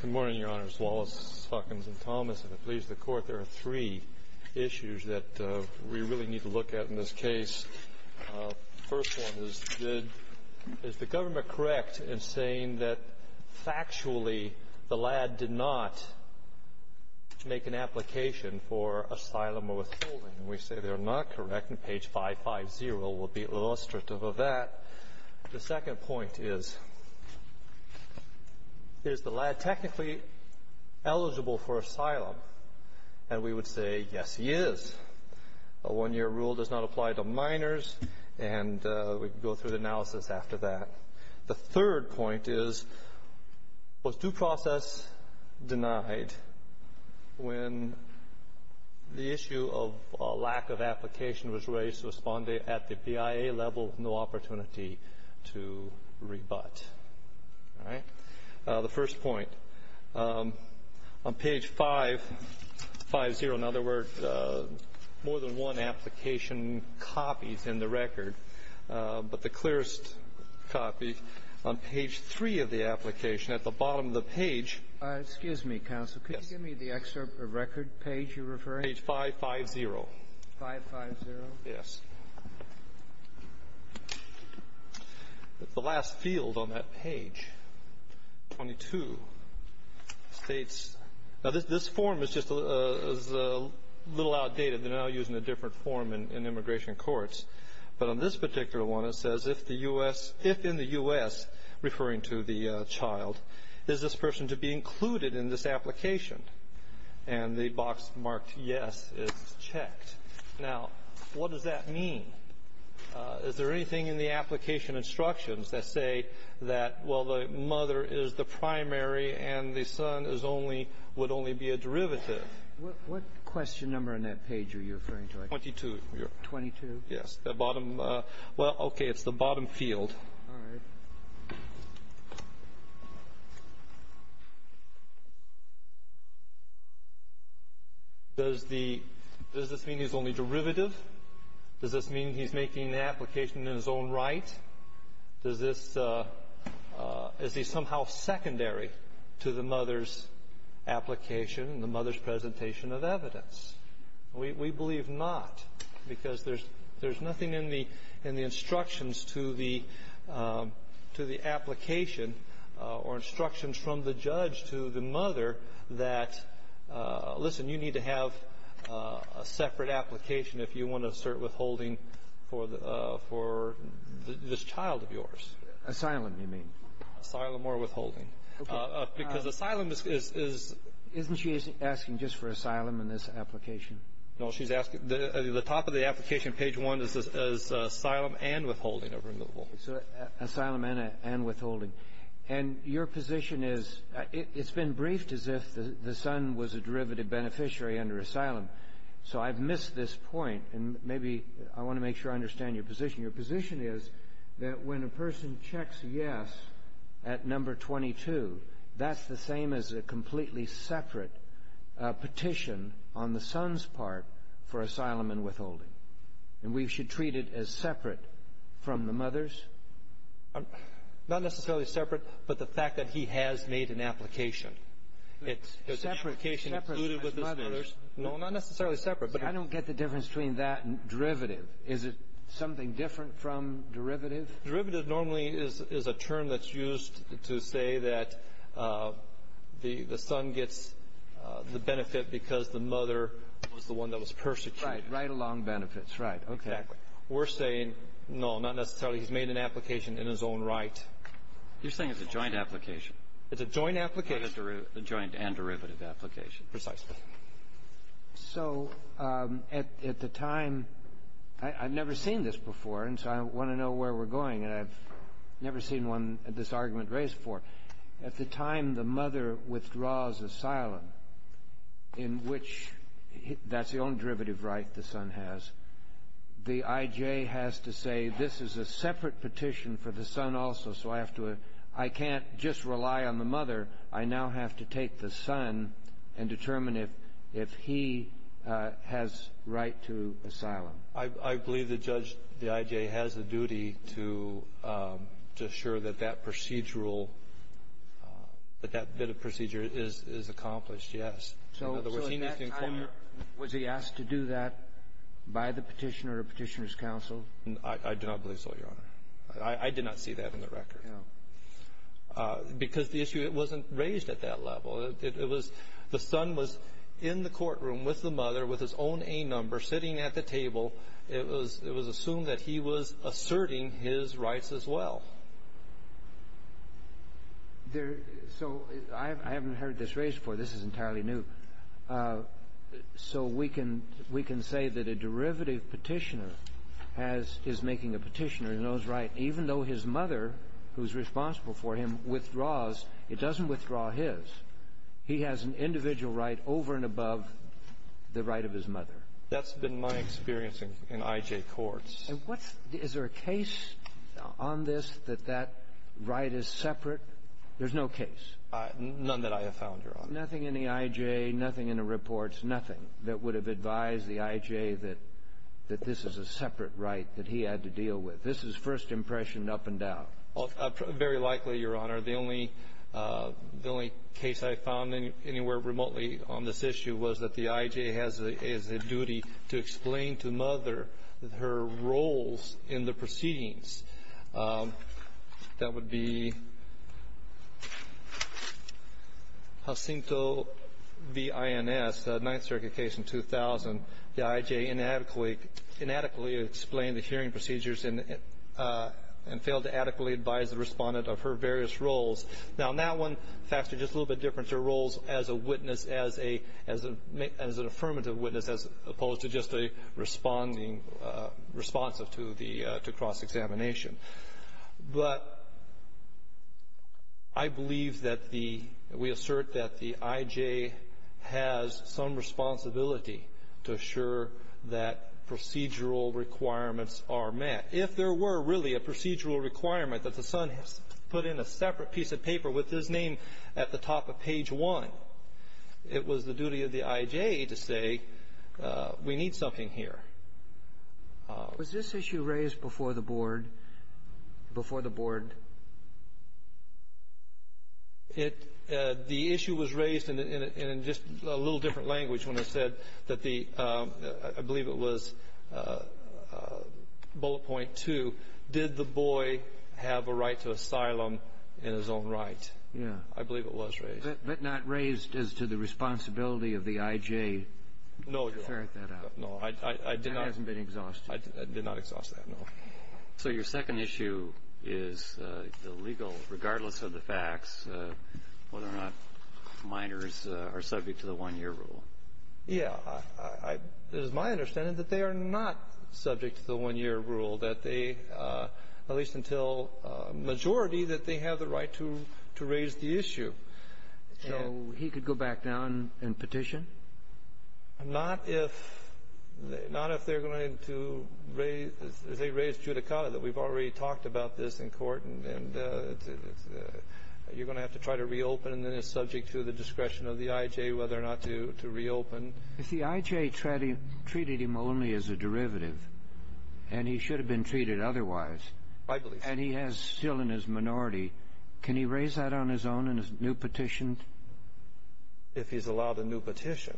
Good morning, Your Honors. Wallace, Salkins, and Thomas. If it pleases the Court, there are three issues that we really need to look at in this case. The first one is, is the government correct in saying that factually the LAD did not make an application for asylum or withholding? We say they're not correct, and page 550 will be illustrative of that. The second point is, is the LAD technically eligible for asylum? And we would say, yes he is. A one-year rule does not apply to minors, and we can go through the analysis after that. The third point is, was due process denied when the issue of lack of application was raised to respond at the BIA level, no opportunity to rebut? The first point, on page 550, in this copy, on page 3 of the application, at the bottom of the page — Excuse me, counsel, could you give me the excerpt of record page you're referring to? Page 550. 550? Yes. The last field on that page, 22, states — now, this form is just a little outdated. They're now using a different form in immigration courts. But on this particular one, it says, if the U.S. — if in the U.S., referring to the child, is this person to be included in this application? And the box marked, yes, is checked. Now, what does that mean? Is there anything in the application instructions that say that, well, the mother is the primary and the son is only — would only be a derivative? What question number on that page are you referring to? Twenty-two. Twenty-two? Yes. The bottom — well, okay, it's the bottom field. All right. Does the — does this mean he's only derivative? Does this mean he's making the application in his own right? Does this — is he somehow secondary to the mother's application and the mother's presentation of evidence? We — we believe not, because there's — there's nothing in the — in the instructions to the — to the application or instructions from the judge to the mother that, listen, you need to have a separate application if you want to assert withholding for the — for this child of yours. Asylum, you mean. Asylum or withholding. Okay. Because asylum is — is — Isn't she asking just for asylum in this application? No, she's asking — the top of the application, page one, is asylum and withholding of removal. So asylum and withholding. And your position is — it's been briefed as if the son was a derivative beneficiary under asylum. So I've missed this point, and maybe I want to make sure I understand your position. Your position is that when a person checks yes at number 22, that's the same as a completely separate petition on the son's part for asylum and withholding. And we should treat it as separate from the mother's? Not necessarily separate, but the fact that he has made an application. It's — Separate. His application included with his mother's. No, not necessarily separate, but — I don't get the difference between that and derivative. Is it something different from derivative? Derivative normally is a term that's used to say that the son gets the benefit because the mother was the one that was persecuted. Right. Right along benefits. Right. Okay. Exactly. We're saying, no, not necessarily. He's made an application in his own right. You're saying it's a joint application? It's a joint application. A joint and derivative application. Precisely. So at the time — I've never seen this before, and so I want to know where we're going, and I've never seen one — this argument raised before. At the time the mother withdraws asylum, in which — that's the only derivative right the son has. The I.J. has to say, this is a separate petition for the son also, so I have to — I can't just I believe the judge, the I.J., has a duty to assure that that procedural — that that bit of procedure is accomplished, yes. So at that time, was he asked to do that by the petitioner or petitioner's counsel? I do not believe so, Your Honor. I did not see that in the record. No. Because the issue, it wasn't raised at that level. It was — the son was in the courtroom with the mother, with his own A number, sitting at the table. It was — it was assumed that he was asserting his rights as well. So I haven't heard this raised before. This is entirely new. So we can — we can say that a derivative petitioner has — is making a petitioner in his own right, even though his mother, who's responsible for him, withdraws. It doesn't withdraw his. He has an individual right over and above the right of his mother. That's been my experience in — in I.J. courts. And what's — is there a case on this that that right is separate? There's no case. None that I have found, Your Honor. Nothing in the I.J., nothing in the reports, nothing that would have advised the I.J. that this is a separate right that he had to deal with. This is first impression, up and down. Very likely, Your Honor. The only case I found anywhere remotely on this issue was that the I.J. has a duty to explain to mother her roles in the proceedings. That would be Jacinto v. Ins, the Ninth Circuit case in 2000. The I.J. inadequately — inadequately explained the hearing procedures and — and failed to adequately advise the respondent of her various roles. Now, on that one, the facts are just a little bit different. Their roles as a witness, as a — as an affirmative witness, as opposed to just a responding — responsive to the — to the hearing procedures, the I.J. has some responsibility to assure that procedural requirements are met. If there were really a procedural requirement that the son has put in a separate piece of paper with his name at the top of page one, it was the duty of the I.J. to say, we need something here. Was this issue raised before the board — before the board? It — the issue was raised in — in just a little different language when I said that the — I believe it was bullet point two, did the boy have a right to asylum in his own right? Yeah. I believe it was raised. But not raised as to the responsibility of the I.J. to ferret that out? No, Your Honor. No, I — I did not — That hasn't been exhausted. I did not exhaust that, no. So your second issue is the legal — regardless of the facts, whether or not minors are subject to the one-year rule. Yeah, I — it is my understanding that they are not subject to the one-year rule, that they — at least until majority, that they have the right to — to raise the issue. So he could go back down and petition? Not if — not if they're going to raise — they raised judicata, that we've already talked about this in court, and — and you're going to have to try to reopen, and then it's subject to the discretion of the I.J. whether or not to — to reopen. If the I.J. treated him only as a derivative, and he should have been treated otherwise — I believe so. — and he has still in his minority, can he raise that on his own in a new petition? If he's allowed a new petition.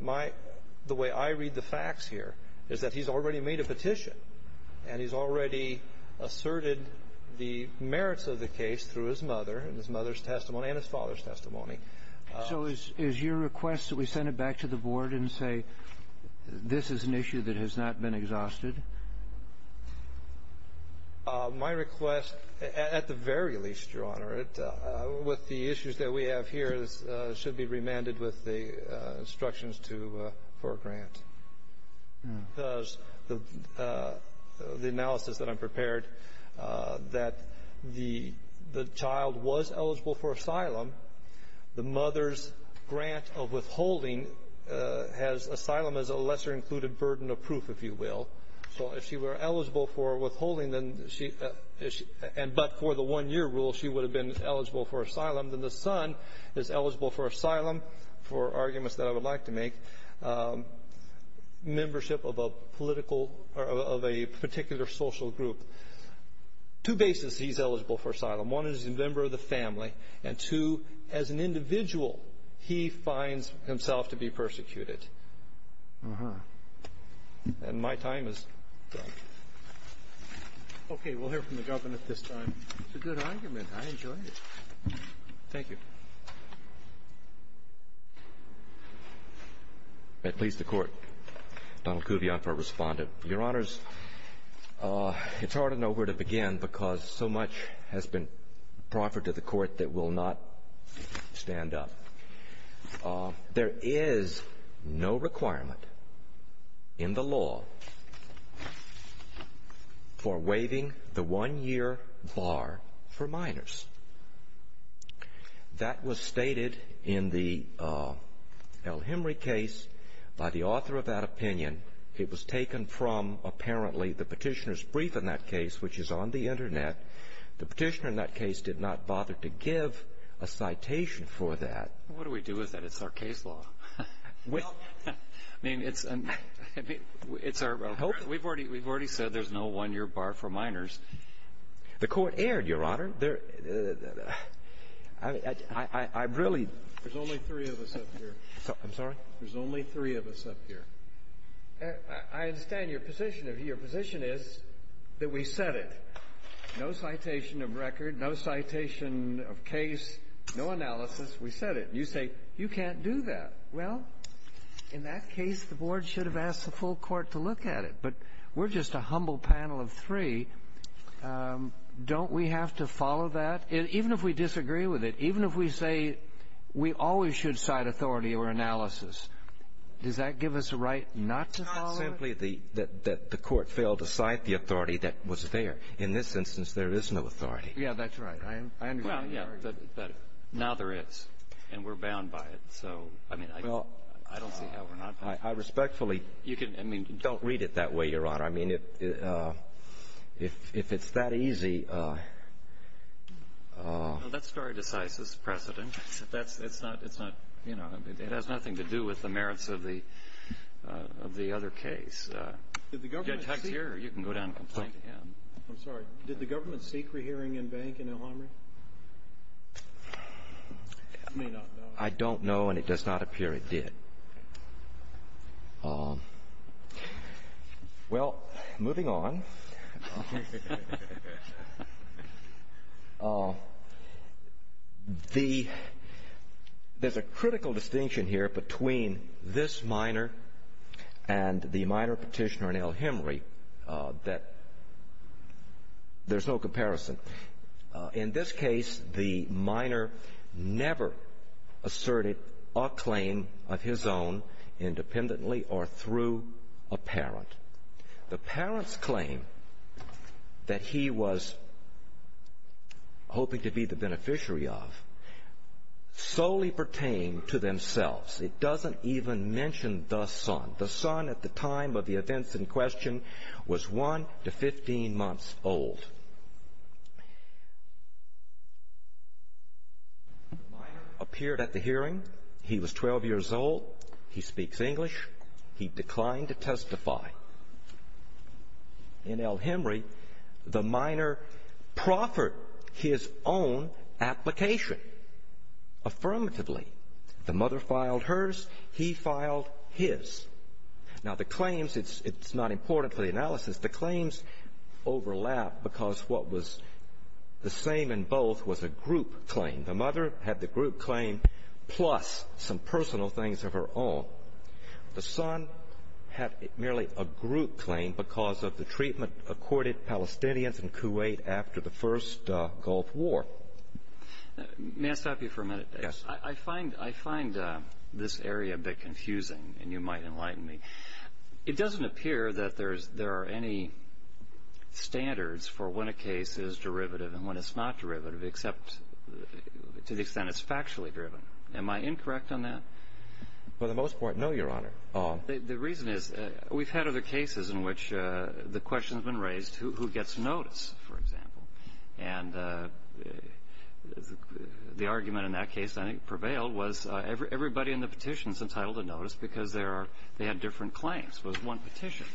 My — the way I read the facts here is that he's already made a petition, and he's already asserted the merits of the case through his mother, and his mother's testimony, and his father's testimony. So is — is your request that we send it back to the Board and say, this is an issue that has not been exhausted? My request, at the very least, Your Honor, it — with the issues that we have here, this should be remanded with the instructions to — for a grant, because the — the analysis that I've prepared, that the — the child was eligible for asylum. The mother's grant of withholding has — asylum is a lesser-included burden of proof, if you will. So if she were eligible for withholding, then she — and but for the one-year rule, she would have been eligible for asylum. Then the son is eligible for asylum, for arguments that I would like to make, membership of a political — or of a particular social group. Two bases he's eligible for asylum. One is a member of the family, and two, as an individual, he finds himself to be persecuted. Uh-huh. And my time is done. Okay. We'll hear from the Governor at this time. It's a good argument. I enjoyed it. Thank you. May it please the Court, Donald Kuvion, for a respondent. Your Honors, it's hard to know where to begin because so much has been proffered to the Court that will not stand up. Uh, there is no requirement in the law for waiving the one-year bar for minors. That was stated in the, uh, El Hemry case by the author of that opinion. It was taken from, apparently, the petitioner's brief in that case, which is on the Internet. The petitioner in that case did not bother to give a citation for that. What do we do with that? It's our case law. Well, I mean, it's our — we've already said there's no one-year bar for minors. The Court erred, Your Honor. There — I really — There's only three of us up here. I'm sorry? There's only three of us up here. I understand your position. Your position is that we set it. No citation of record. No citation of case. No analysis. We set it. You say, you can't do that. Well, in that case, the Board should have asked the full Court to look at it. But we're just a humble panel of three. Don't we have to follow that? Even if we disagree with it. Even if we say we always should cite authority or analysis. Does that give us a right not to follow? That the Court failed to cite the authority that was there. In this instance, there is no authority. Yeah, that's right. Now there is. And we're bound by it. So, I mean, I don't see how we're not bound. I respectfully — You can — I mean — Don't read it that way, Your Honor. I mean, if it's that easy — Well, that's very decisive, Mr. President. That's — it's not — it's not — you know, it has nothing to do with the merits of the of the other case. Did the government — Judge Huck's here. You can go down and complain to him. I'm sorry. Did the government seek rehearing in Bank and Elhamry? You may not know. I don't know, and it does not appear it did. Well, moving on. Oh, there's a critical distinction here between this minor and the minor petitioner in Elhamry that there's no comparison. In this case, the minor never asserted a claim of his own independently or through a parent. The parent's claim that he was hoping to be the beneficiary of solely pertained to themselves. It doesn't even mention the son. The son at the time of the events in question was one to 15 months old. The minor appeared at the hearing. He was 12 years old. He speaks English. He declined to testify. In Elhamry, the minor proffered his own application affirmatively. The mother filed hers. He filed his. Now, the claims, it's not important for the analysis. The claims overlap because what was the same in both was a group claim. The mother had the group claim plus some personal things of her own. The son had merely a group claim because of the treatment accorded Palestinians and Kuwait after the first Gulf War. May I stop you for a minute? Yes. I find this area a bit confusing and you might enlighten me. It doesn't appear that there are any standards for when a case is derivative and when it's not derivative except to the extent it's factually driven. Am I incorrect on that? For the most part, no, Your Honor. The reason is we've had other cases in which the question has been raised who gets notice, for example. And the argument in that case, I think, prevailed was everybody in the petition is entitled to notice because they had different claims. It was one petition.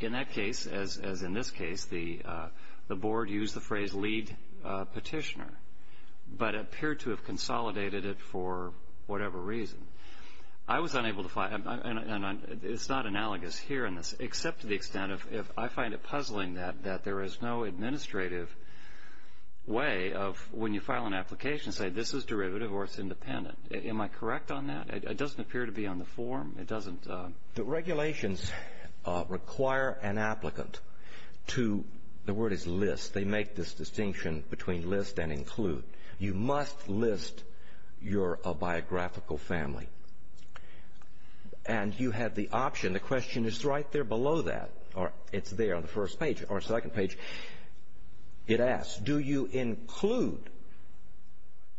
In that case, as in this case, the board used the phrase lead petitioner but appeared to have consolidated it for whatever reason. I was unable to find and it's not analogous here in this except to the extent of if I find it puzzling that there is no administrative way of when you file an application say this is derivative or it's independent. Am I correct on that? It doesn't appear to be on the form. It doesn't. The regulations require an applicant to the word is list. They make this distinction between list and include. You must list you're a biographical family. And you have the option. The question is right there below that or it's there on the first page or second page. It asks, do you include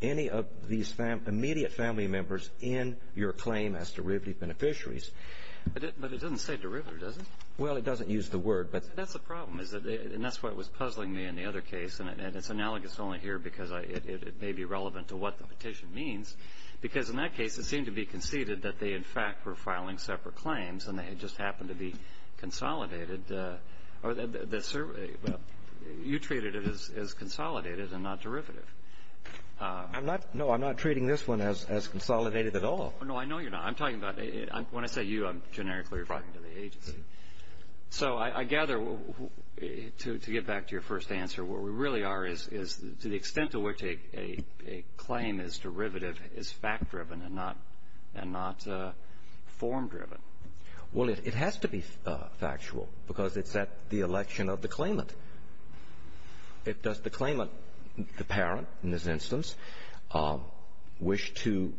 any of these immediate family members in your claim as derivative beneficiaries? But it doesn't say derivative, does it? Well, it doesn't use the word. But that's the problem is that and that's what was puzzling me in the other case. And it's analogous only here because it may be relevant to what the petition means. Because in that case, it seemed to be conceded that they, in fact, were filing separate claims and they just happened to be consolidated. You treated it as consolidated and not derivative. No, I'm not treating this one as consolidated at all. No, I know you're not. I'm talking about when I say you, I'm generically referring to the agency. So I gather to get back to your first answer, where we really are is to the extent to which a claim is derivative is fact driven and not form driven. Well, it has to be factual because it's at the election of the claimant. If the claimant, the parent in this instance, wish to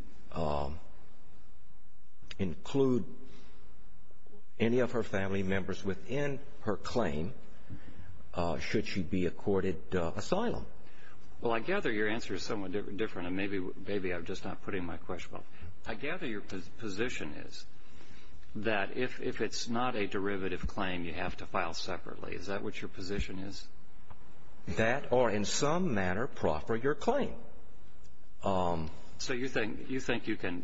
include any of her family members within her claim, should she be accorded asylum? Well, I gather your answer is somewhat different. And maybe I'm just not putting my question well. I gather your position is that if it's not a derivative claim, you have to file separately. Is that what your position is? That or in some manner proffer your claim. So you think you can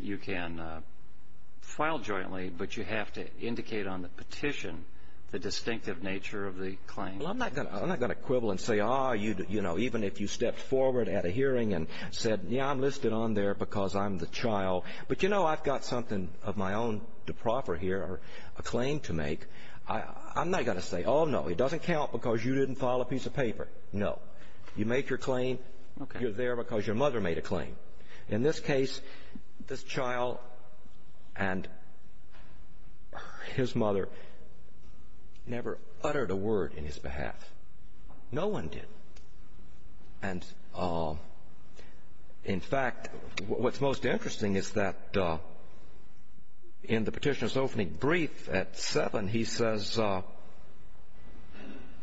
file jointly, but you have to indicate on the petition the distinctive nature of the claim? Well, I'm not going to quibble and say, oh, you know, even if you stepped forward at a hearing and said, yeah, I'm listed on there because I'm the child. But, you know, I've got something of my own to proffer here or a claim to make. I'm not going to say, oh, no, it doesn't count because you didn't file a piece of paper. No. You make your claim, you're there because your mother made a claim. In this case, this child and his mother never uttered a word in his behalf. No one did. And, in fact, what's most interesting is that in the Petitioner's opening brief at 7, he says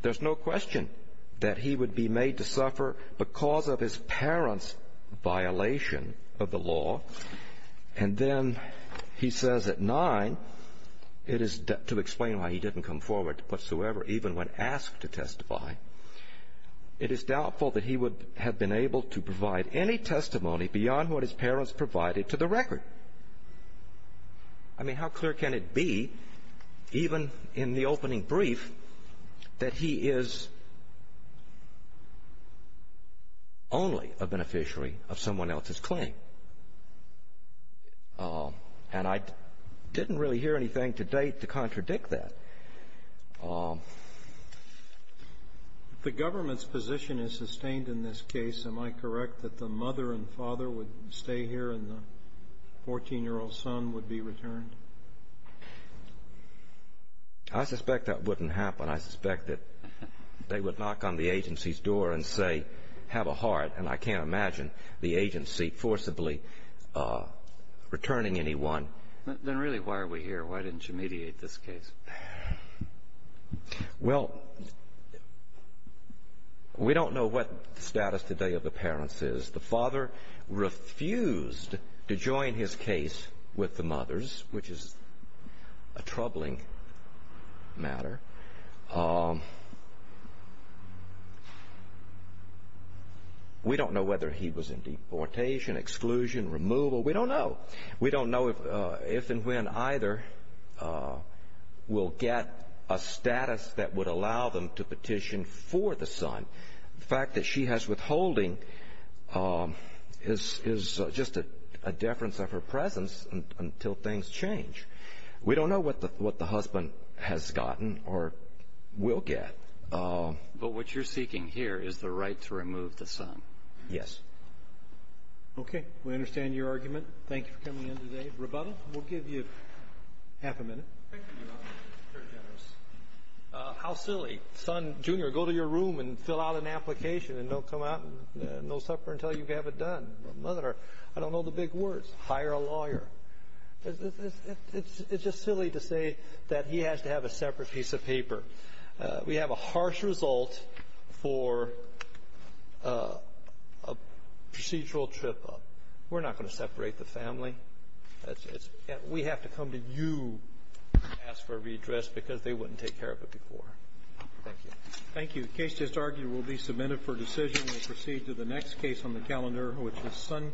there's no question that he would be made to suffer because of his parents' violation of the law. And then he says at 9, it is to explain why he didn't come forward whatsoever, even when asked to testify, it is doubtful that he would have been able to provide any testimony beyond what his parents provided to the record. I mean, how clear can it be, even in the opening brief, that he is only a beneficiary of someone else's claim? And I didn't really hear anything to date to contradict that. The government's position is sustained in this case. Am I correct that the mother and father would stay here and the 14-year-old son would be returned? I suspect that wouldn't happen. I suspect that they would knock on the agency's door and say, have a heart. And I can't imagine the agency forcibly returning anyone. Then really, why are we here? Why didn't you mediate this case? Well, we don't know what the status today of the parents is. The father refused to join his case with the mothers, which is a troubling matter. We don't know whether he was in deportation, exclusion, removal. We don't know. We don't know if and when either will get a status that would allow them to petition for the son. The fact that she has withholding is just a deference of her presence until things change. We don't know what the husband has gotten or will get. But what you're seeking here is the right to remove the son. Yes. Okay. We understand your argument. Thank you for coming in today. Rebuttal? We'll give you half a minute. How silly. Son, junior, go to your room and fill out an application and don't come out and no supper until you have it done. Mother, I don't know the big words. Hire a lawyer. It's just silly to say that he has to have a separate piece of paper. We have a harsh result for a procedural trip up. We're not going to separate the family. We have to come to you and ask for a redress because they wouldn't take care of it before. Thank you. Thank you. The case just argued will be submitted for decision. We'll proceed to the next case on the calendar, which is son.